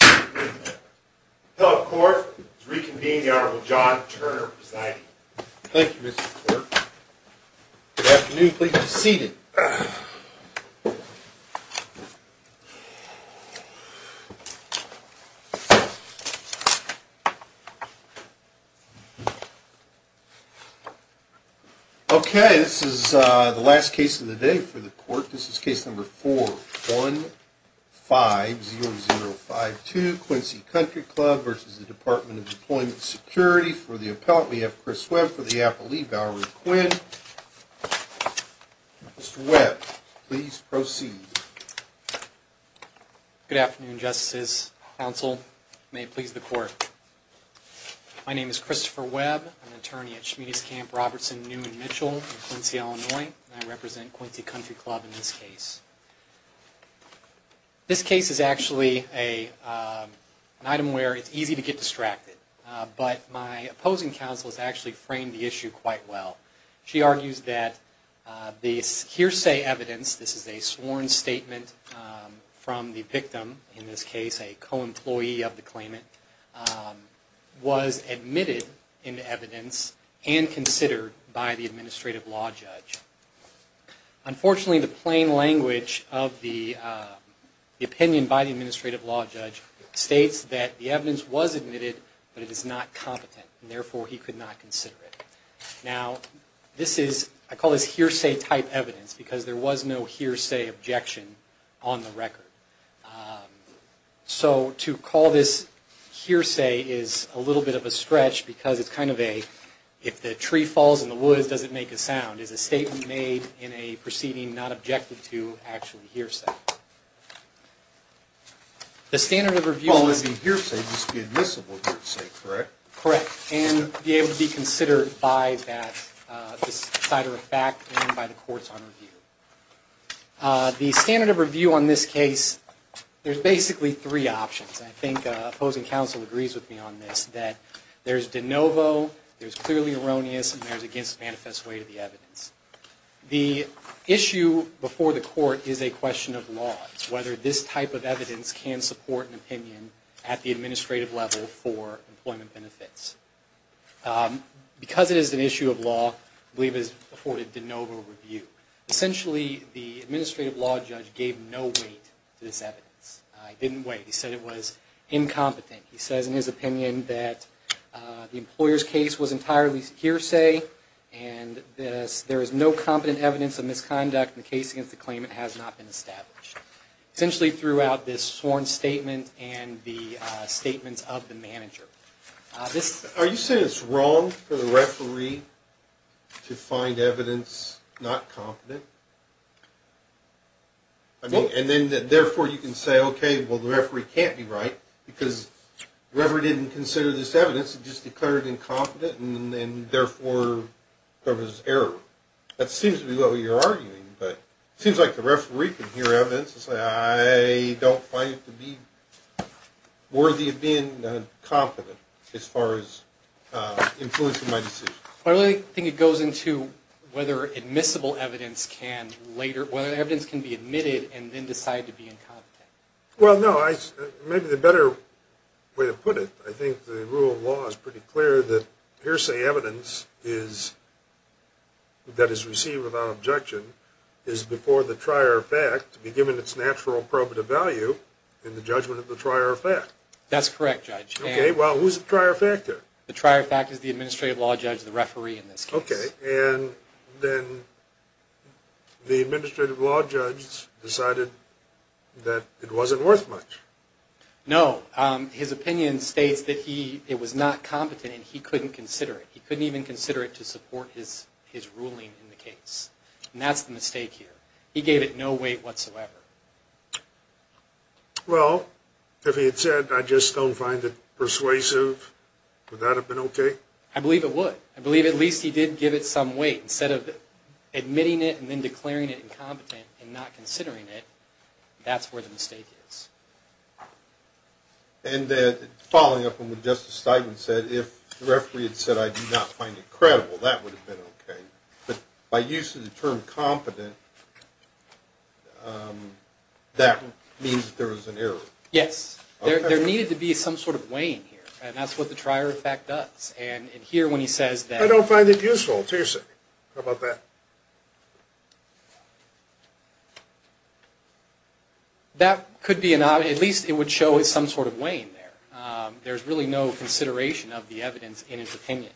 Hello court, I'd like to reconvene the Honorable John Turner presiding. Thank you Mr. Clerk. Good afternoon, please be seated. Okay, this is the last case of the day for the court. This is case number 4150052, Quincy Country Club v. Department of Deployment Security. We have Chris Webb for the appellee, Valerie Quinn. Mr. Webb, please proceed. Good afternoon, justices, counsel. May it please the court. My name is Christopher Webb. I'm an attorney at Schmiedes Camp, Robertson, New and Mitchell in Quincy, Illinois. I represent Quincy Country Club in this case. This case is actually an item where it's easy to get distracted, but my opposing counsel has actually framed the issue quite well. She argues that the hearsay evidence, this is a sworn statement from the victim, in this case a co-employee of the claimant, was admitted into evidence and considered by the administrative law judge. Unfortunately, the plain language of the opinion by the administrative law judge states that the evidence was admitted, but it is not competent, and therefore he could not consider it. Now, this is, I call this hearsay type evidence, because there was no hearsay objection on the record. So, to call this hearsay is a little bit of a stretch, because it's kind of a, if the tree falls in the woods, does it make a sound? It's a statement made in a proceeding not objected to actually hearsay. The standard of review... Well, it would be hearsay, just be admissible hearsay, correct? Correct, and be able to be considered by that, this side of the fact, and by the courts on review. The standard of review on this case, there's basically three options. I think opposing counsel agrees with me on this, that there's de novo, there's clearly erroneous, and there's against manifest way to the evidence. The issue before the court is a question of law. It's whether this type of evidence can support an opinion at the administrative level for employment benefits. Because it is an issue of law, I believe it is afforded de novo review. Essentially, the administrative law judge gave no weight to this evidence. He didn't weight, he said it was incompetent. He says in his opinion that the employer's case was entirely hearsay, and there is no competent evidence of misconduct in the case against the claimant has not been established. Essentially, throughout this sworn statement and the statements of the manager. Are you saying it's wrong for the referee to find evidence not competent? I mean, and then therefore you can say, okay, well, the referee can't be right, because the referee didn't consider this evidence. It just declared it incompetent, and therefore there was error. That seems to be what you're arguing, but it seems like the referee can hear evidence and say, I don't find it to be worthy of being competent as far as influencing my decision. I really think it goes into whether admissible evidence can later, whether evidence can be admitted and then decide to be incompetent. Well, no, maybe the better way to put it, I think the rule of law is pretty clear that hearsay evidence is, that is received without objection, is before the trier of fact to be given its natural probative value in the judgment of the trier of fact. That's correct, Judge. Okay, well, who's the trier of fact there? The trier of fact is the administrative law judge, the referee in this case. Okay, and then the administrative law judge decided that it wasn't worth much. No, his opinion states that he, it was not competent and he couldn't consider it. He couldn't even consider it to support his ruling in the case, and that's the mistake here. He gave it no weight whatsoever. Well, if he had said, I just don't find it persuasive, would that have been okay? I believe it would. I believe at least he did give it some weight. Instead of admitting it and then declaring it incompetent and not considering it, that's where the mistake is. And following up on what Justice Steinman said, if the referee had said, I do not find it credible, that would have been okay. But by use of the term competent, that means that there was an error. Yes. There needed to be some sort of weighing here, and that's what the trier of fact does. And here when he says that. I don't find it useful, it's hearsay. How about that? That could be, at least it would show some sort of weighing there. There's really no consideration of the evidence in his opinion.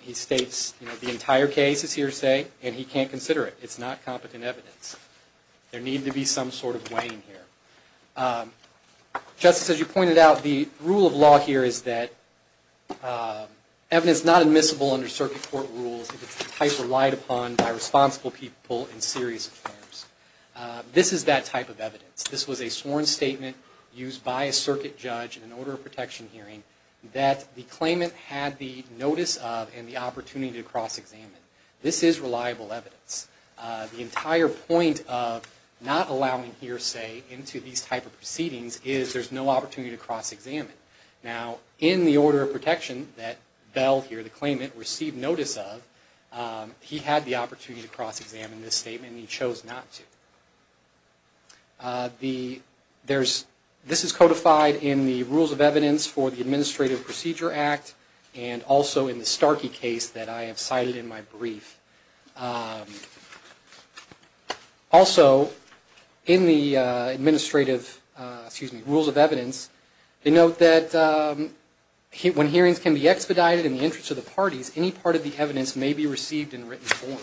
He states the entire case is hearsay, and he can't consider it. It's not competent evidence. There needed to be some sort of weighing here. Justice, as you pointed out, the rule of law here is that evidence is not admissible under circuit court rules. It's a type relied upon by responsible people in serious affairs. This is that type of evidence. This was a sworn statement used by a circuit judge in an order of protection hearing that the claimant had the notice of and the opportunity to cross-examine. This is reliable evidence. The entire point of not allowing hearsay into these type of proceedings is there's no opportunity to cross-examine. Now, in the order of protection that Bell here, the claimant, received notice of, he had the opportunity to cross-examine this statement and he chose not to. This is codified in the rules of evidence for the Administrative Procedure Act and also in the Starkey case that I have cited in my brief. Also, in the administrative, excuse me, rules of evidence, they note that when hearings can be expedited in the interest of the parties, any part of the evidence may be received in written form.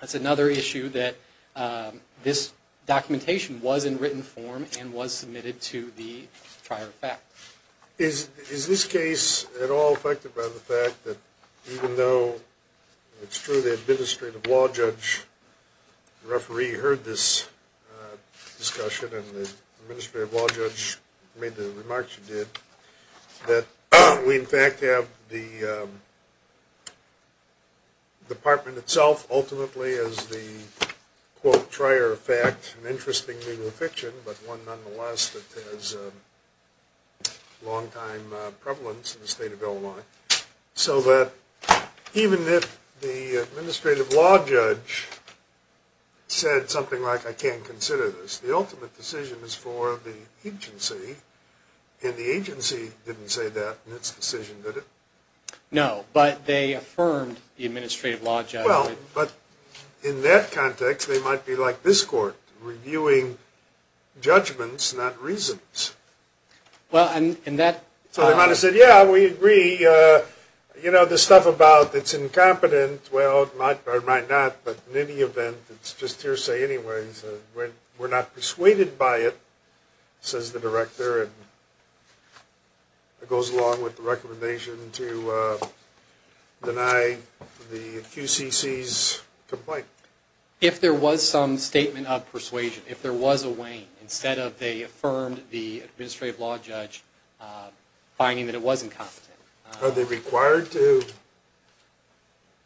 That's another issue that this documentation was in written form and was submitted to the prior fact. Is this case at all affected by the fact that even though it's true the Administrative Law Judge, the referee, heard this discussion and the Administrative Law Judge made the remarks you did, that we in fact have the department itself ultimately as the, quote, prior fact, an interesting thing of fiction, but one nonetheless that has long-time prevalence in the state of Illinois. So that even if the Administrative Law Judge said something like, I can't consider this, the ultimate decision is for the agency and the agency didn't say that in its decision, did it? No, but they affirmed the Administrative Law Judge. Well, but in that context, they might be like this court, reviewing judgments, not reasons. So they might have said, yeah, we agree. You know, the stuff about it's incompetent, well, it might or might not, but in any event, it's just hearsay anyways. We're not persuaded by it, says the director, and it goes along with the recommendation to deny the QCC's complaint. If there was some statement of persuasion, if there was a wane, instead of they affirmed the Administrative Law Judge, finding that it was incompetent. Are they required to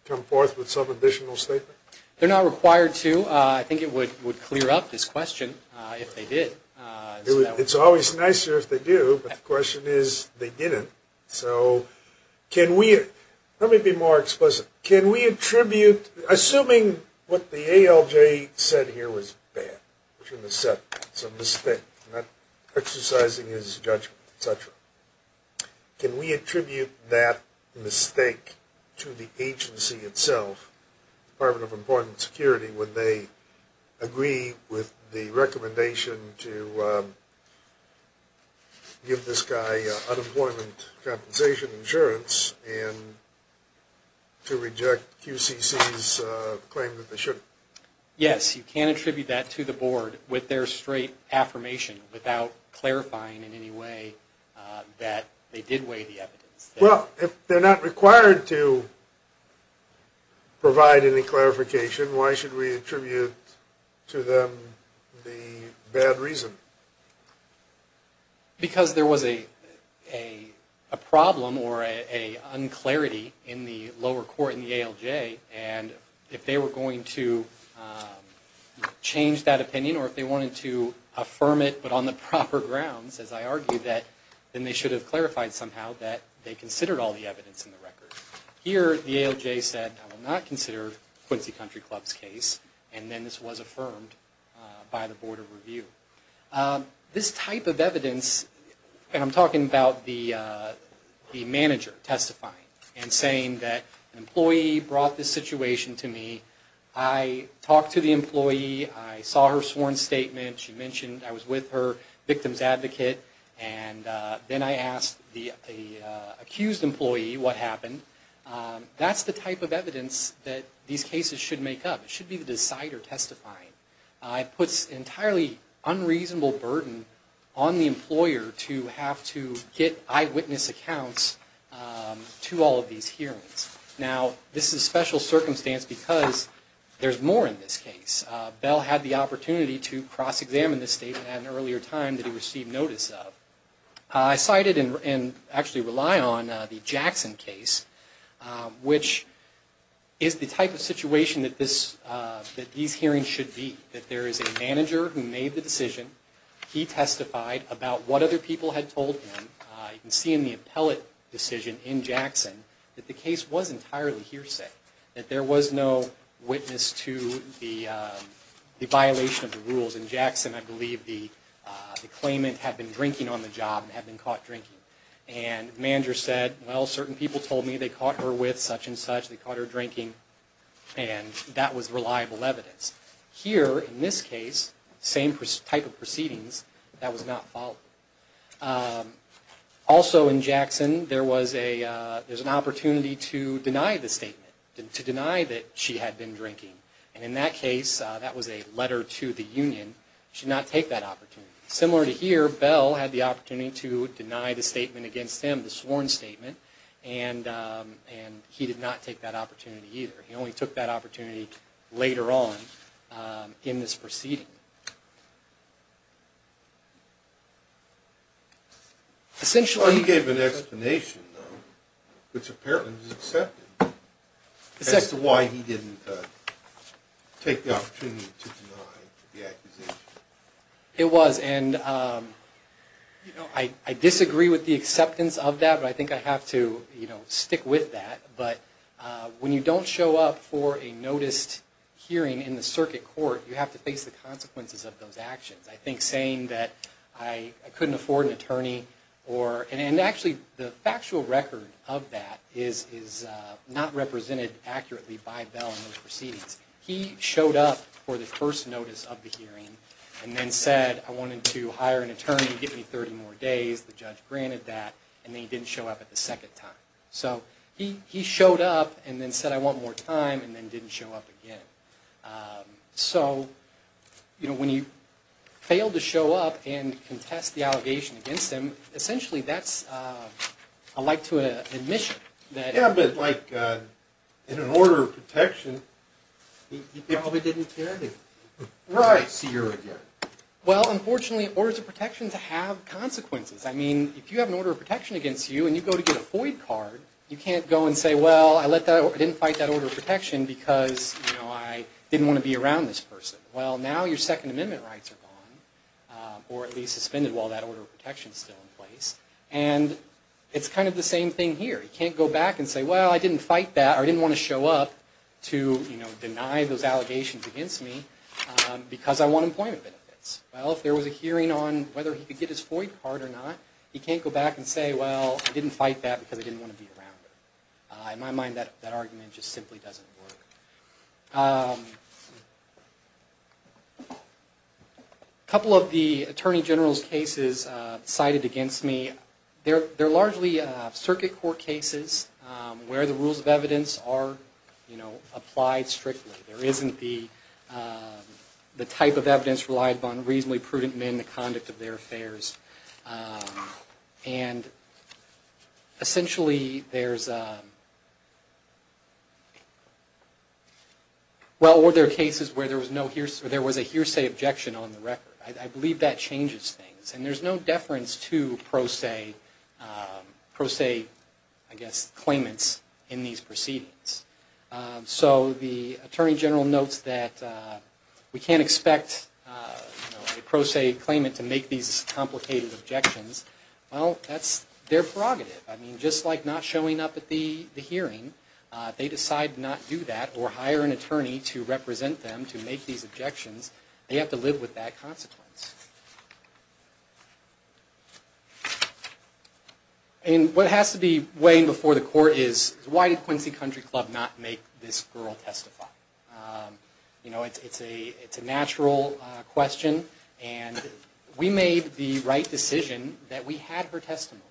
come forth with some additional statement? They're not required to. I think it would clear up this question if they did. It's always nicer if they do, but the question is they didn't. So can we – let me be more explicit. Can we attribute – assuming what the ALJ said here was bad, which is a setback, it's a mistake, not exercising his judgment, et cetera. Can we attribute that mistake to the agency itself, Department of Employment and Security, when they agree with the recommendation to give this guy unemployment compensation insurance and to reject QCC's claim that they shouldn't? Yes, you can attribute that to the board with their straight affirmation without clarifying in any way that they did weigh the evidence. Well, if they're not required to provide any clarification, why should we attribute to them the bad reason? Because there was a problem or an unclarity in the lower court in the ALJ, and if they were going to change that opinion or if they wanted to affirm it but on the proper grounds, as I argued, then they should have clarified somehow that they considered all the evidence in the record. Here, the ALJ said, I will not consider Quincy Country Club's case, and then this was affirmed by the Board of Review. This type of evidence – and I'm talking about the manager testifying and saying that an employee brought this situation to me. I talked to the employee. I saw her sworn statement. She mentioned I was with her, victim's advocate. Then I asked the accused employee what happened. That's the type of evidence that these cases should make up. It should be the decider testifying. It puts an entirely unreasonable burden on the employer to have to get eyewitness accounts to all of these hearings. Now, this is a special circumstance because there's more in this case. Bell had the opportunity to cross-examine this statement at an earlier time that he received notice of. I cited and actually rely on the Jackson case, which is the type of situation that these hearings should be. That there is a manager who made the decision. He testified about what other people had told him. You can see in the appellate decision in Jackson that the case was entirely hearsay, that there was no witness to the violation of the rules. In Jackson, I believe the claimant had been drinking on the job and had been caught drinking. The manager said, well, certain people told me they caught her with such and such. They caught her drinking, and that was reliable evidence. Here, in this case, same type of proceedings. That was not followed. Also in Jackson, there was an opportunity to deny the statement. To deny that she had been drinking. In that case, that was a letter to the union. Should not take that opportunity. Similar to here, Bell had the opportunity to deny the statement against him, the sworn statement. He did not take that opportunity either. He only took that opportunity later on in this proceeding. He gave an explanation though, which apparently was accepted. As to why he didn't take the opportunity to deny the accusation. It was, and I disagree with the acceptance of that, but I think I have to stick with that. But when you don't show up for a noticed hearing in the circuit court, you have to face the consequences of those actions. I think saying that I couldn't afford an attorney, and actually the factual record of that is not represented accurately by Bell in those proceedings. He showed up for the first notice of the hearing, and then said I wanted to hire an attorney to give me 30 more days. The judge granted that, and then he didn't show up at the second time. So he showed up, and then said I want more time, and then didn't show up again. So when you fail to show up and contest the allegation against him, essentially that's a like to an admission. Yeah, but like in an order of protection, he probably didn't care to see her again. Well, unfortunately, orders of protection have consequences. I mean, if you have an order of protection against you, and you go to get a FOID card, you can't go and say, well, I didn't fight that order of protection, because I didn't want to be around this person. Well, now your Second Amendment rights are gone, or at least suspended while that order of protection is still in place. And it's kind of the same thing here. You can't go back and say, well, I didn't fight that, or I didn't want to show up to deny those allegations against me, because I want employment benefits. Well, if there was a hearing on whether he could get his FOID card or not, he can't go back and say, well, I didn't fight that, because I didn't want to be around her. In my mind, that argument just simply doesn't work. A couple of the Attorney General's cases cited against me, they're largely circuit court cases where the rules of evidence are applied strictly. There isn't the type of evidence relied upon, reasonably prudent men, the conduct of their affairs. And essentially there's a... Well, or there are cases where there was a hearsay objection on the record. I believe that changes things. And there's no deference to pro se, I guess, claimants in these proceedings. So the Attorney General notes that we can't expect a pro se claimant to make these complicated objections. Well, that's their prerogative. I mean, just like not showing up at the hearing, if they decide not to do that or hire an attorney to represent them to make these objections, they have to live with that consequence. And what has to be weighed before the court is, why did Quincy Country Club not make this girl testify? You know, it's a natural question. And we made the right decision that we had her testimony.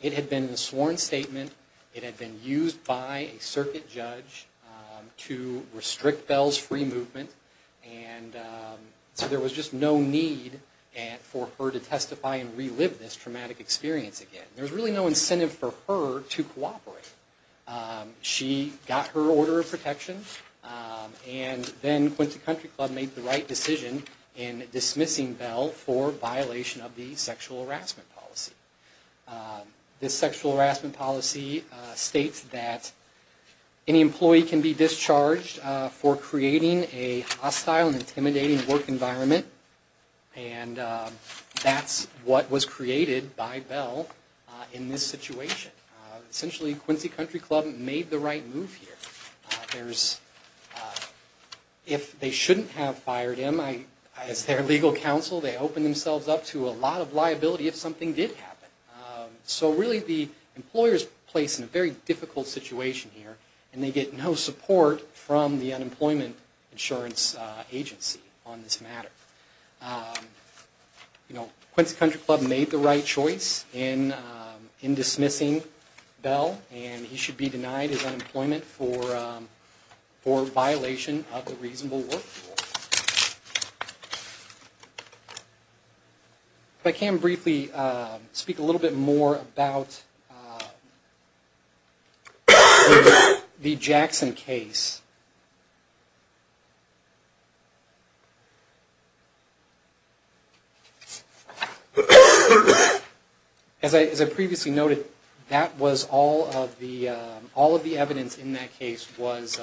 It had been a sworn statement. It had been used by a circuit judge to restrict Bell's free movement. And so there was just no need for her to testify and relive this traumatic experience again. There was really no incentive for her to cooperate. She got her order of protection, and then Quincy Country Club made the right decision in dismissing Bell for violation of the sexual harassment policy. This sexual harassment policy states that any employee can be discharged for creating a hostile and intimidating work environment, and that's what was created by Bell in this situation. Essentially, Quincy Country Club made the right move here. If they shouldn't have fired him, as their legal counsel, they opened themselves up to a lot of liability if something did happen. So really, the employer is placed in a very difficult situation here, and they get no support from the unemployment insurance agency on this matter. You know, Quincy Country Club made the right choice in dismissing Bell, and he should be denied his unemployment for violation of the reasonable work rule. If I can briefly speak a little bit more about the Jackson case. As I previously noted, all of the evidence in that case was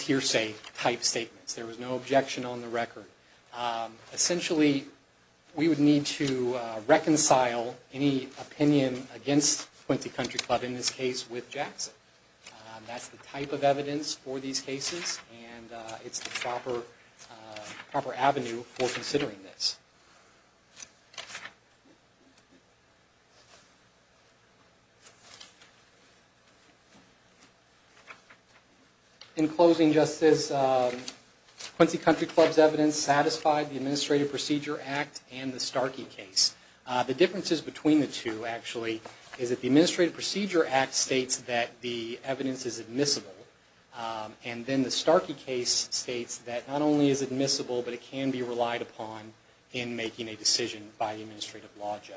hearsay. There was no objection on the record. Essentially, we would need to reconcile any opinion against Quincy Country Club, in this case, with Jackson. That's the type of evidence for these cases, and it's the proper avenue for considering this. In closing, Justice, Quincy Country Club's evidence satisfied the Administrative Procedure Act and the Starkey case. The differences between the two, actually, is that the Administrative Procedure Act states that the evidence is admissible, and then the Starkey case states that not only is it admissible, but it can be relied upon in making a decision. And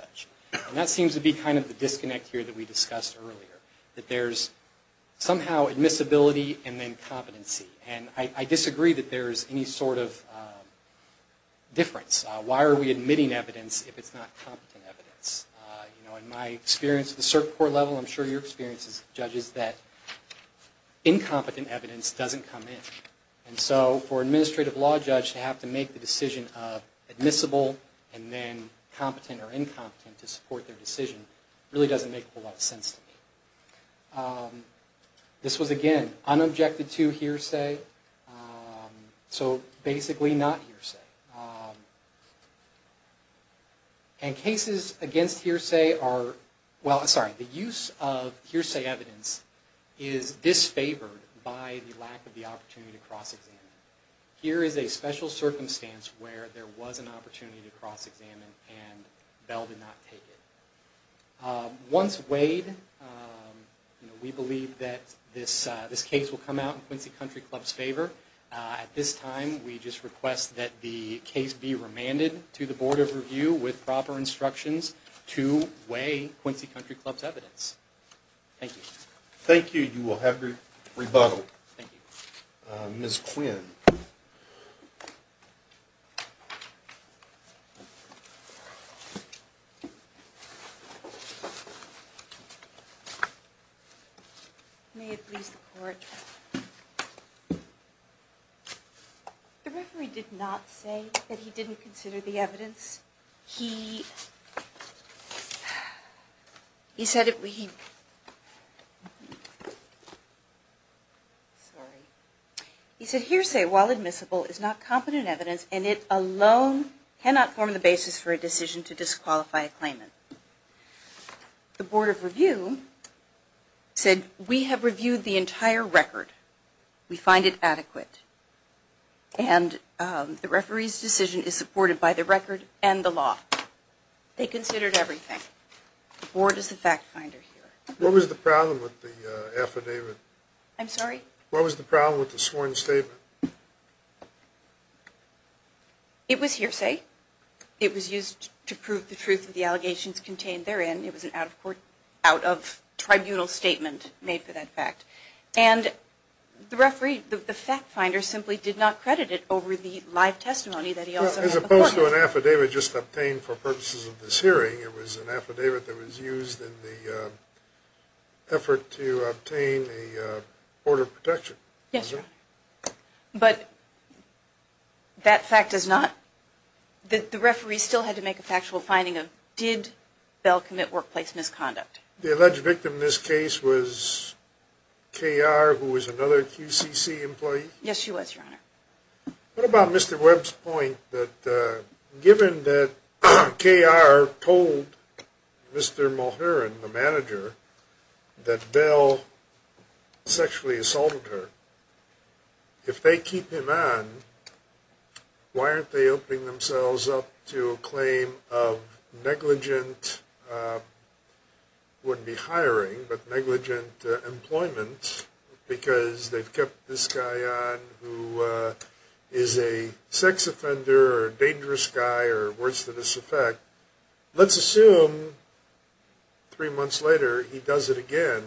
that seems to be kind of the disconnect here that we discussed earlier, that there's somehow admissibility and then competency. And I disagree that there's any sort of difference. Why are we admitting evidence if it's not competent evidence? You know, in my experience at the cert court level, I'm sure your experience as a judge is that incompetent evidence doesn't come in. And so for an administrative law judge to have to make the decision of admissible and then competent or incompetent to support their decision, really doesn't make a whole lot of sense to me. This was, again, unobjected to hearsay, so basically not hearsay. And cases against hearsay are, well, sorry, the use of hearsay evidence is disfavored by the lack of the opportunity to cross-examine. Here is a special circumstance where there was an opportunity to cross-examine and Bell did not take it. Once weighed, we believe that this case will come out in Quincy Country Club's favor. At this time, we just request that the case be remanded to the Board of Review with proper instructions to weigh Quincy Country Club's evidence. Thank you. Thank you. You will have your rebuttal. Thank you. May it please the Court. The referee did not say that he didn't consider the evidence. He said hearsay, while admissible, is not competent evidence and it alone cannot form the basis for a decision to disqualify a claimant. The Board of Review said, we have reviewed the entire record. We find it adequate. And the referee's decision is supported by the record and the law. They considered everything. The Board is the fact finder here. What was the problem with the affidavit? I'm sorry? What was the problem with the sworn statement? It was hearsay. It was used to prove the truth of the allegations contained therein. It was an out-of-court, out-of-tribunal statement made for that fact. And the referee, the fact finder, simply did not credit it over the live testimony that he also had before him. As opposed to an affidavit just obtained for purposes of this hearing, it was an affidavit that was used in the effort to obtain a Board of Protection. Yes, sir. But that fact does not, the referee still had to make a factual finding of, did Bell commit workplace misconduct? The alleged victim in this case was K.R., who was another QCC employee? Yes, she was, Your Honor. What about Mr. Webb's point that given that K.R. told Mr. Mulherin, the manager, that Bell sexually assaulted her, if they keep him on, why aren't they opening themselves up to a claim of negligent, wouldn't be hiring, but negligent employment, because they've kept this guy on who is a sex offender or a dangerous guy or words to this effect. Let's assume three months later he does it again,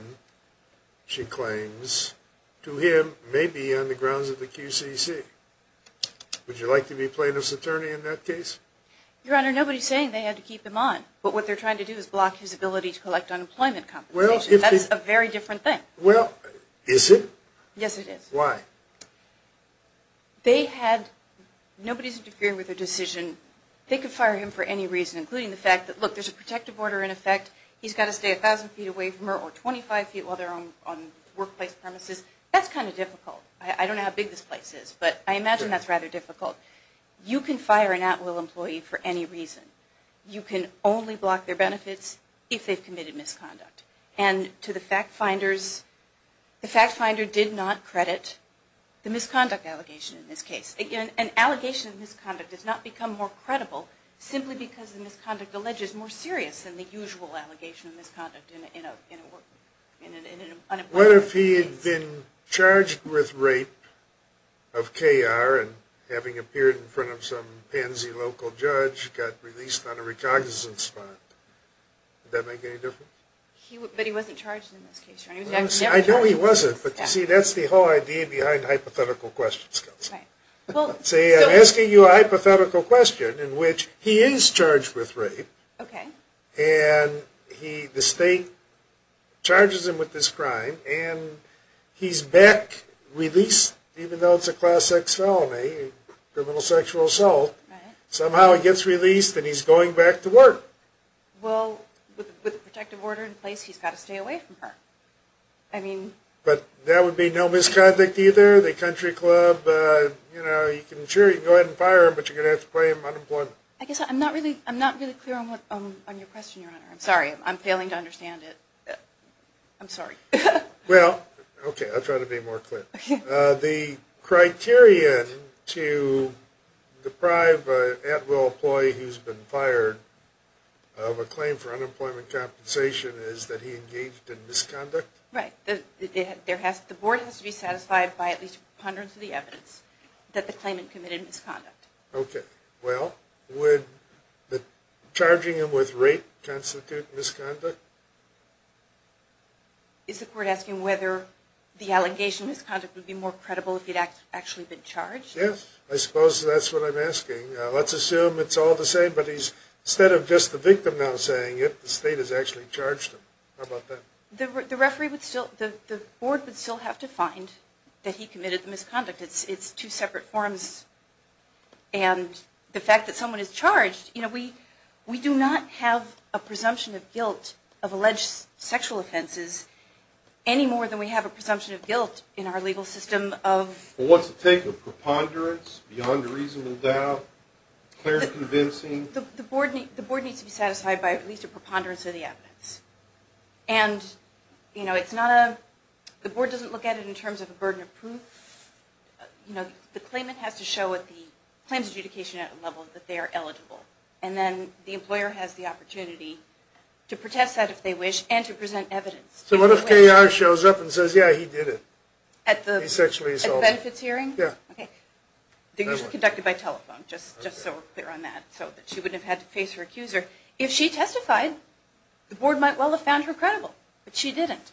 she claims, to him, maybe on the grounds of the QCC. Would you like to be plaintiff's attorney in that case? Your Honor, nobody's saying they had to keep him on, but what they're trying to do is block his ability to collect unemployment compensation. That's a very different thing. Well, is it? Yes, it is. Why? They had, nobody's interfering with their decision. They could fire him for any reason, including the fact that, look, there's a protective order in effect, he's got to stay a thousand feet away from her or 25 feet while they're on workplace premises. That's kind of difficult. I don't know how big this place is, but I imagine that's rather difficult. You can fire an at-will employee for any reason. You can only block their benefits if they've committed misconduct. And to the fact finders, the fact finder did not credit the misconduct allegation in this case. An allegation of misconduct does not become more credible simply because the misconduct alleges more serious than the usual allegation of misconduct in an unemployment case. What if he had been charged with rape of KR and having appeared in front of some pansy local judge got released on a recognizance bond? Would that make any difference? But he wasn't charged in this case, Your Honor. I know he wasn't, but, see, that's the whole idea behind hypothetical questions. See, I'm asking you a hypothetical question in which he is charged with rape and the state charges him with this crime and he's back, released, even though it's a class X felony, criminal sexual assault, somehow he gets released and he's going back to work. Well, with a protective order in place, he's got to stay away from her. But that would be no misconduct either? The country club, you know, you can insure, you can go ahead and fire him, but you're going to have to claim unemployment. I guess I'm not really clear on your question, Your Honor. I'm sorry, I'm failing to understand it. I'm sorry. Well, okay, I'll try to be more clear. The criterion to deprive an at-will employee who's been fired of a claim for unemployment compensation is that he engaged in misconduct? Right. The board has to be satisfied by at least a preponderance of the evidence that the claimant committed misconduct. Okay. Well, would charging him with rape constitute misconduct? Is the court asking whether the allegation of misconduct would be more credible if he had actually been charged? Yes, I suppose that's what I'm asking. Let's assume it's all the same, but instead of just the victim now saying it, the state has actually charged him. How about that? The board would still have to find that he committed the misconduct. It's two separate forms. And the fact that someone is charged, you know, we do not have a presumption of guilt of alleged sexual offenses any more than we have a presumption of guilt in our legal system of… Well, what's the take of preponderance, beyond a reasonable doubt, clear and convincing? The board needs to be satisfied by at least a preponderance of the evidence. And, you know, it's not a – the board doesn't look at it in terms of a burden of proof. You know, the claimant has to show at the claims adjudication level that they are eligible. And then the employer has the opportunity to protest that if they wish and to present evidence. So what if K.R. shows up and says, yeah, he did it? At the benefits hearing? Yeah. Okay. They usually conduct it by telephone, just so we're clear on that, so that she wouldn't have had to face her accuser. If she testified, the board might well have found her credible. But she didn't.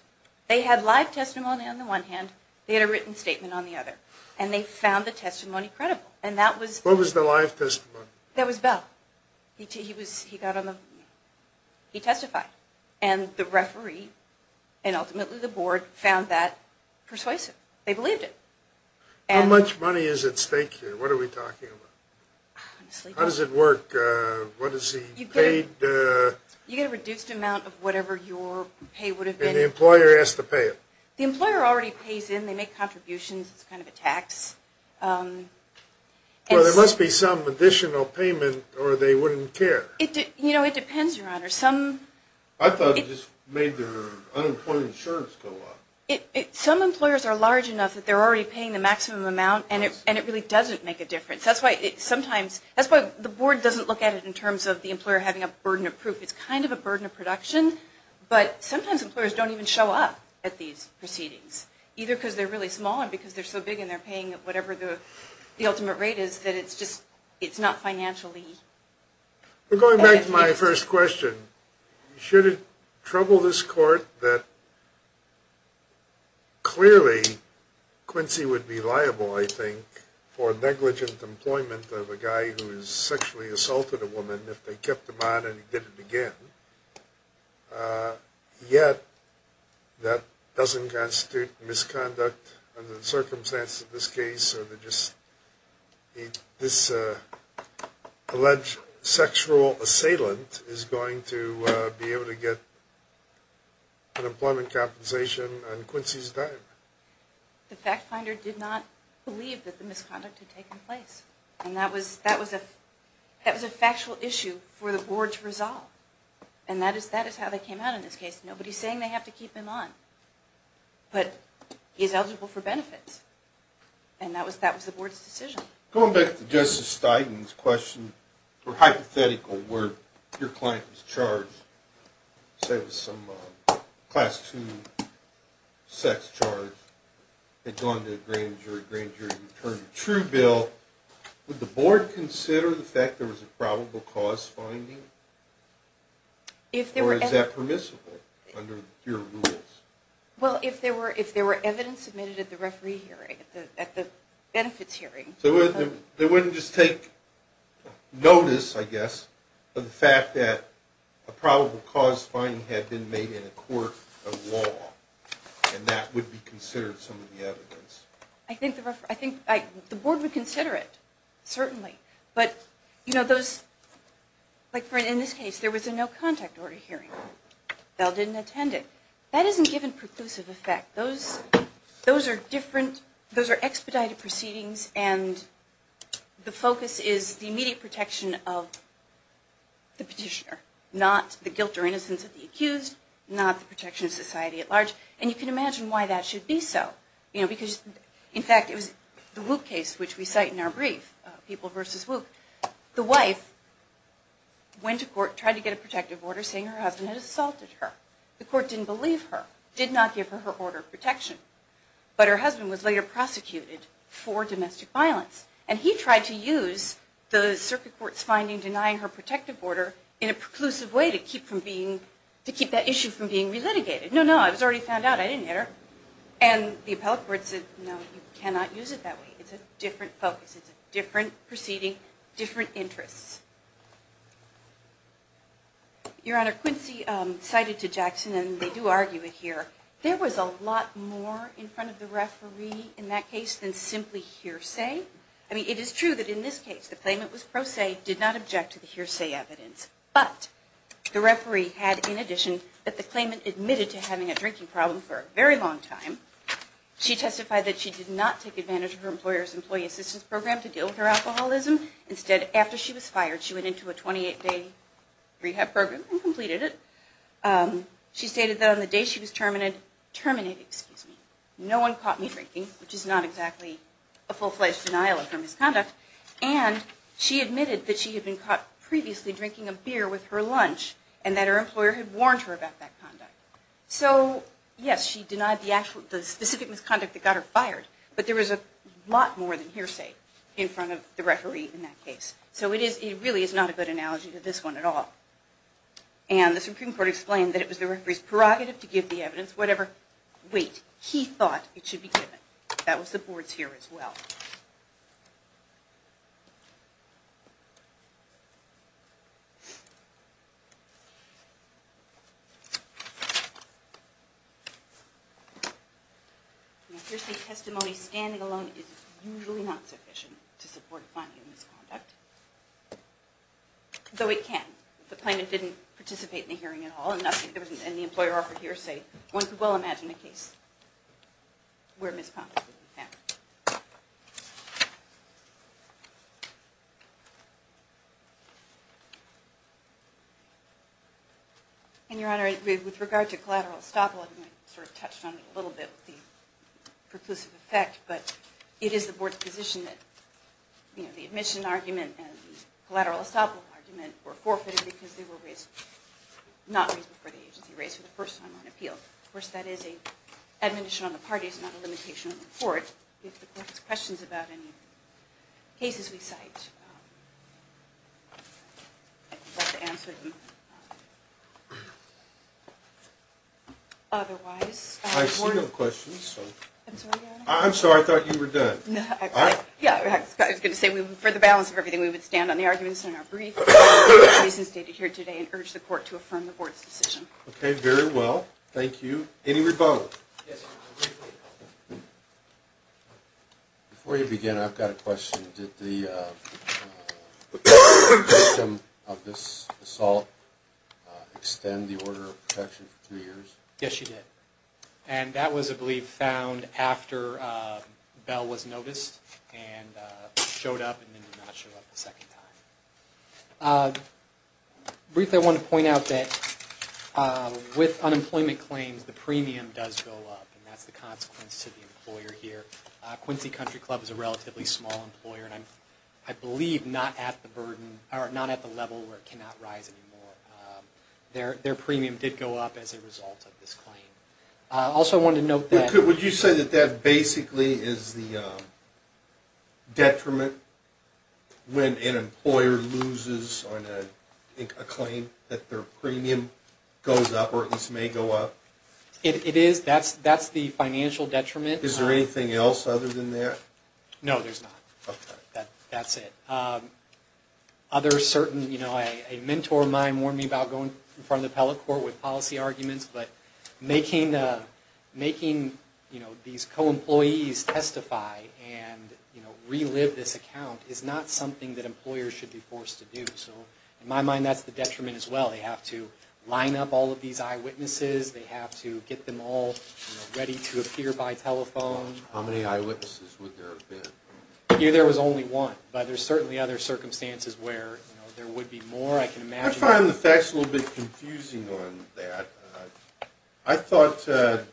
They had live testimony on the one hand. They had a written statement on the other. And they found the testimony credible. And that was – What was the live testimony? That was Bell. He got on the – he testified. And the referee and ultimately the board found that persuasive. They believed it. How much money is at stake here? What are we talking about? How does it work? What is he paid? You get a reduced amount of whatever your pay would have been. And the employer has to pay it? The employer already pays in. They make contributions. It's kind of a tax. Well, there must be some additional payment or they wouldn't care. You know, it depends, Your Honor. I thought it just made their unemployment insurance go up. Some employers are large enough that they're already paying the maximum amount, and it really doesn't make a difference. That's why sometimes – that's why the board doesn't look at it in terms of the employer having a burden of proof. It's kind of a burden of production. But sometimes employers don't even show up at these proceedings, either because they're really small or because they're so big and they're paying whatever the ultimate rate is that it's just – it's not financially – Going back to my first question, should it trouble this court that clearly Quincy would be liable, I think, for negligent employment of a guy who has sexually assaulted a woman if they kept him on and he did it again, yet that doesn't constitute misconduct under the circumstances of this case or that this alleged sexual assailant is going to be able to get an employment compensation on Quincy's dime? The fact finder did not believe that the misconduct had taken place. And that was a factual issue for the board to resolve. And that is how they came out on this case. Nobody's saying they have to keep him on, but he's eligible for benefits. And that was the board's decision. Going back to Justice Stein's hypothetical where your client was charged, say it was some Class II sex charge, had gone to a grand jury, grand jury returned a true bill, would the board consider the fact there was a probable cause finding? Or is that permissible under your rules? Well, if there were evidence submitted at the referee hearing, at the benefits hearing. So they wouldn't just take notice, I guess, of the fact that a probable cause finding had been made in a court of law and that would be considered some of the evidence. I think the board would consider it, certainly. But, you know, in this case there was a no contact order hearing. Bell didn't attend it. That isn't given preclusive effect. Those are expedited proceedings and the focus is the immediate protection of the petitioner, not the guilt or innocence of the accused, not the protection of society at large. And you can imagine why that should be so. In fact, it was the Wuke case, which we cite in our brief, People v. Wuke. The wife went to court, tried to get a protective order, saying her husband had assaulted her. The court didn't believe her, did not give her her order of protection. But her husband was later prosecuted for domestic violence and he tried to use the circuit court's finding denying her protective order in a preclusive way to keep that issue from being relitigated. No, no, I was already found out. I didn't hit her. And the appellate court said, no, you cannot use it that way. It's a different focus. It's a different proceeding, different interests. Your Honor, Quincy cited to Jackson, and we do argue it here, there was a lot more in front of the referee in that case than simply hearsay. I mean, it is true that in this case the claimant was pro se, did not object to the hearsay evidence. But the referee had, in addition, that the claimant admitted to having a drinking problem for a very long time. She testified that she did not take advantage of her employer's employee assistance program to deal with her alcoholism. Instead, after she was fired, she went into a 28-day rehab program and completed it. She stated that on the day she was terminated, no one caught me drinking, which is not exactly a full-fledged denial of her misconduct. And she admitted that she had been caught previously drinking a beer with her lunch and that her employer had warned her about that conduct. So, yes, she denied the specific misconduct that got her fired. But there was a lot more than hearsay in front of the referee in that case. So it really is not a good analogy to this one at all. And the Supreme Court explained that it was the referee's prerogative to give the evidence, whatever weight he thought it should be given. That was the board's view as well. Now, hearsay testimony standing alone is usually not sufficient to support finding a misconduct, though it can. If the plaintiff didn't participate in the hearing at all and the employer offered hearsay, one could well imagine a case where misconduct didn't happen. And, Your Honor, with regard to collateral estoppel, I sort of touched on it a little bit with the preclusive effect, but it is the board's position that the admission argument and the collateral estoppel argument were forfeited because they were not reasonable for the agency to raise for the first time on appeal. Of course, that is an admonition on the parties, not a limitation on the court. If the court has questions about any cases we cite, I'd be glad to answer them. Otherwise, the board... I see no questions, so... I'm sorry, Your Honor. I'm sorry, I thought you were done. No, I was going to say, for the balance of everything, we would stand on the arguments in our brief, as is stated here today, and urge the court to affirm the board's decision. Okay, very well. Thank you. Any rebuttal? Yes, Your Honor. Before you begin, I've got a question. Did the victim of this assault extend the order of protection for three years? Yes, she did. And that was, I believe, found after Bell was noticed and showed up and then did not show up the second time. Briefly, I want to point out that with unemployment claims, the premium does go up, and that's the consequence to the employer here. Quincy Country Club is a relatively small employer, and I believe not at the level where it cannot rise anymore. Their premium did go up as a result of this claim. Also, I wanted to note that... Would you say that that basically is the detriment when an employer loses on a claim that their premium goes up or at least may go up? It is. That's the financial detriment. Is there anything else other than that? No, there's not. Okay. That's it. Other certain... A mentor of mine warned me about going in front of the appellate court with policy arguments, but making these co-employees testify and relive this account is not something that employers should be forced to do. In my mind, that's the detriment as well. They have to line up all of these eyewitnesses. They have to get them all ready to appear by telephone. How many eyewitnesses would there have been? There was only one, but there's certainly other circumstances where there would be more. I can imagine... I find the facts a little bit confusing on that. I thought there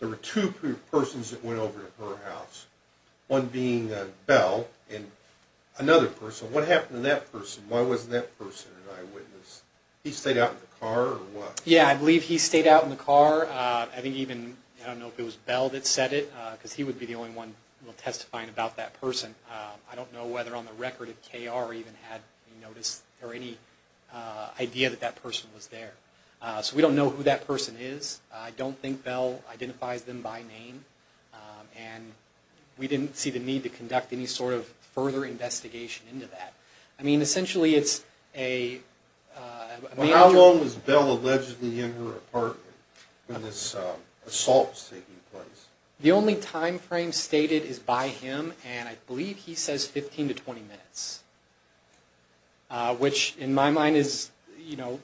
were two persons that went over to her house, one being Bell and another person. What happened to that person? Why wasn't that person an eyewitness? He stayed out in the car or what? Yeah, I believe he stayed out in the car. I think even, I don't know if it was Bell that said it, because he would be the only one testifying about that person. I don't know whether on the record if KR even had noticed or any idea that that person was there. So we don't know who that person is. I don't think Bell identifies them by name. And we didn't see the need to conduct any sort of further investigation into that. I mean, essentially it's a... How long was Bell allegedly in her apartment when this assault was taking place? The only time frame stated is by him, and I believe he says 15 to 20 minutes, which in my mind is, you know,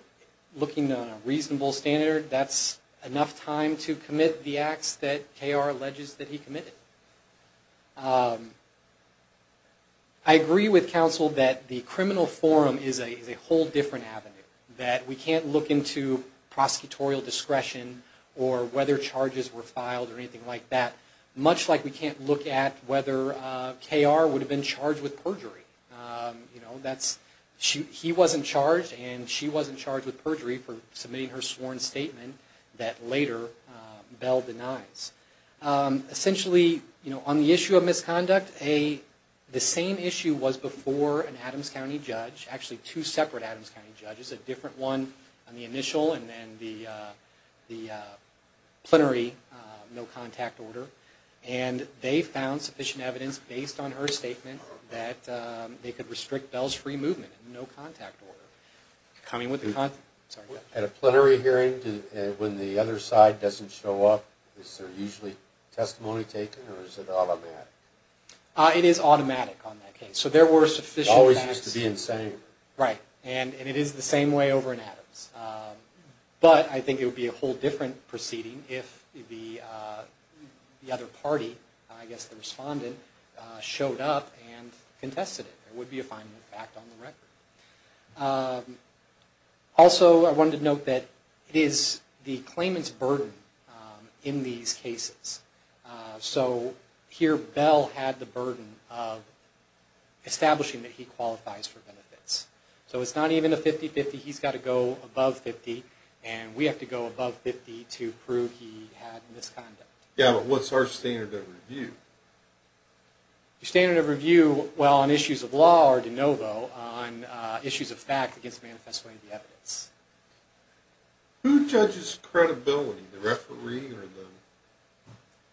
looking on a reasonable standard, that's enough time to commit the acts that KR alleges that he committed. I agree with counsel that the criminal forum is a whole different avenue, that we can't look into prosecutorial discretion or whether charges were filed or anything like that, much like we can't look at whether KR would have been charged with perjury. You know, he wasn't charged and she wasn't charged with perjury for submitting her sworn statement that later Bell denies. Essentially, you know, on the issue of misconduct, the same issue was before an Adams County judge, actually two separate Adams County judges, there was a different one on the initial and then the plenary no-contact order, and they found sufficient evidence based on her statement that they could restrict Bell's free movement in no-contact order. At a plenary hearing when the other side doesn't show up, is there usually testimony taken or is it automatic? It is automatic on that case. So there were sufficient facts... It always used to be the same. Right, and it is the same way over in Adams. But I think it would be a whole different proceeding if the other party, I guess the respondent, showed up and contested it. It would be a final fact on the record. Also, I wanted to note that it is the claimant's burden in these cases. So here Bell had the burden of establishing that he qualifies for benefits. So it's not even a 50-50, he's got to go above 50, and we have to go above 50 to prove he had misconduct. Yeah, but what's our standard of review? Your standard of review, well, on issues of law or de novo, on issues of fact against manifestoing the evidence. Who judges credibility, the referee or the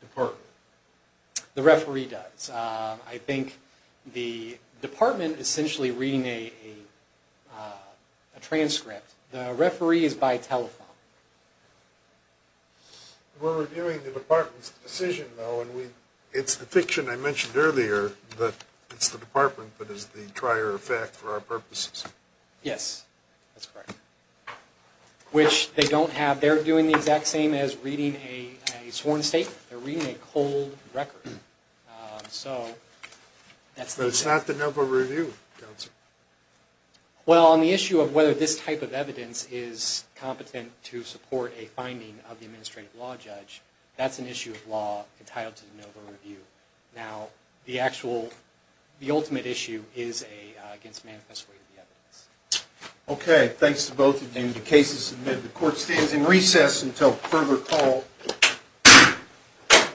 department? The referee does. I think the department essentially reading a transcript. The referee is by telephone. We're reviewing the department's decision, though, and it's the fiction I mentioned earlier that it's the department that is the trier of fact for our purposes. Yes, that's correct, which they don't have. They're doing the exact same as reading a sworn statement. They're reading a cold record. So that's the case. But it's not de novo review, counsel. Well, on the issue of whether this type of evidence is competent to support a finding of the administrative law judge, that's an issue of law entitled to de novo review. Now, the ultimate issue is against manifestoing the evidence. Okay. Thanks to both of you. The case is submitted. The court stands in recess until further call.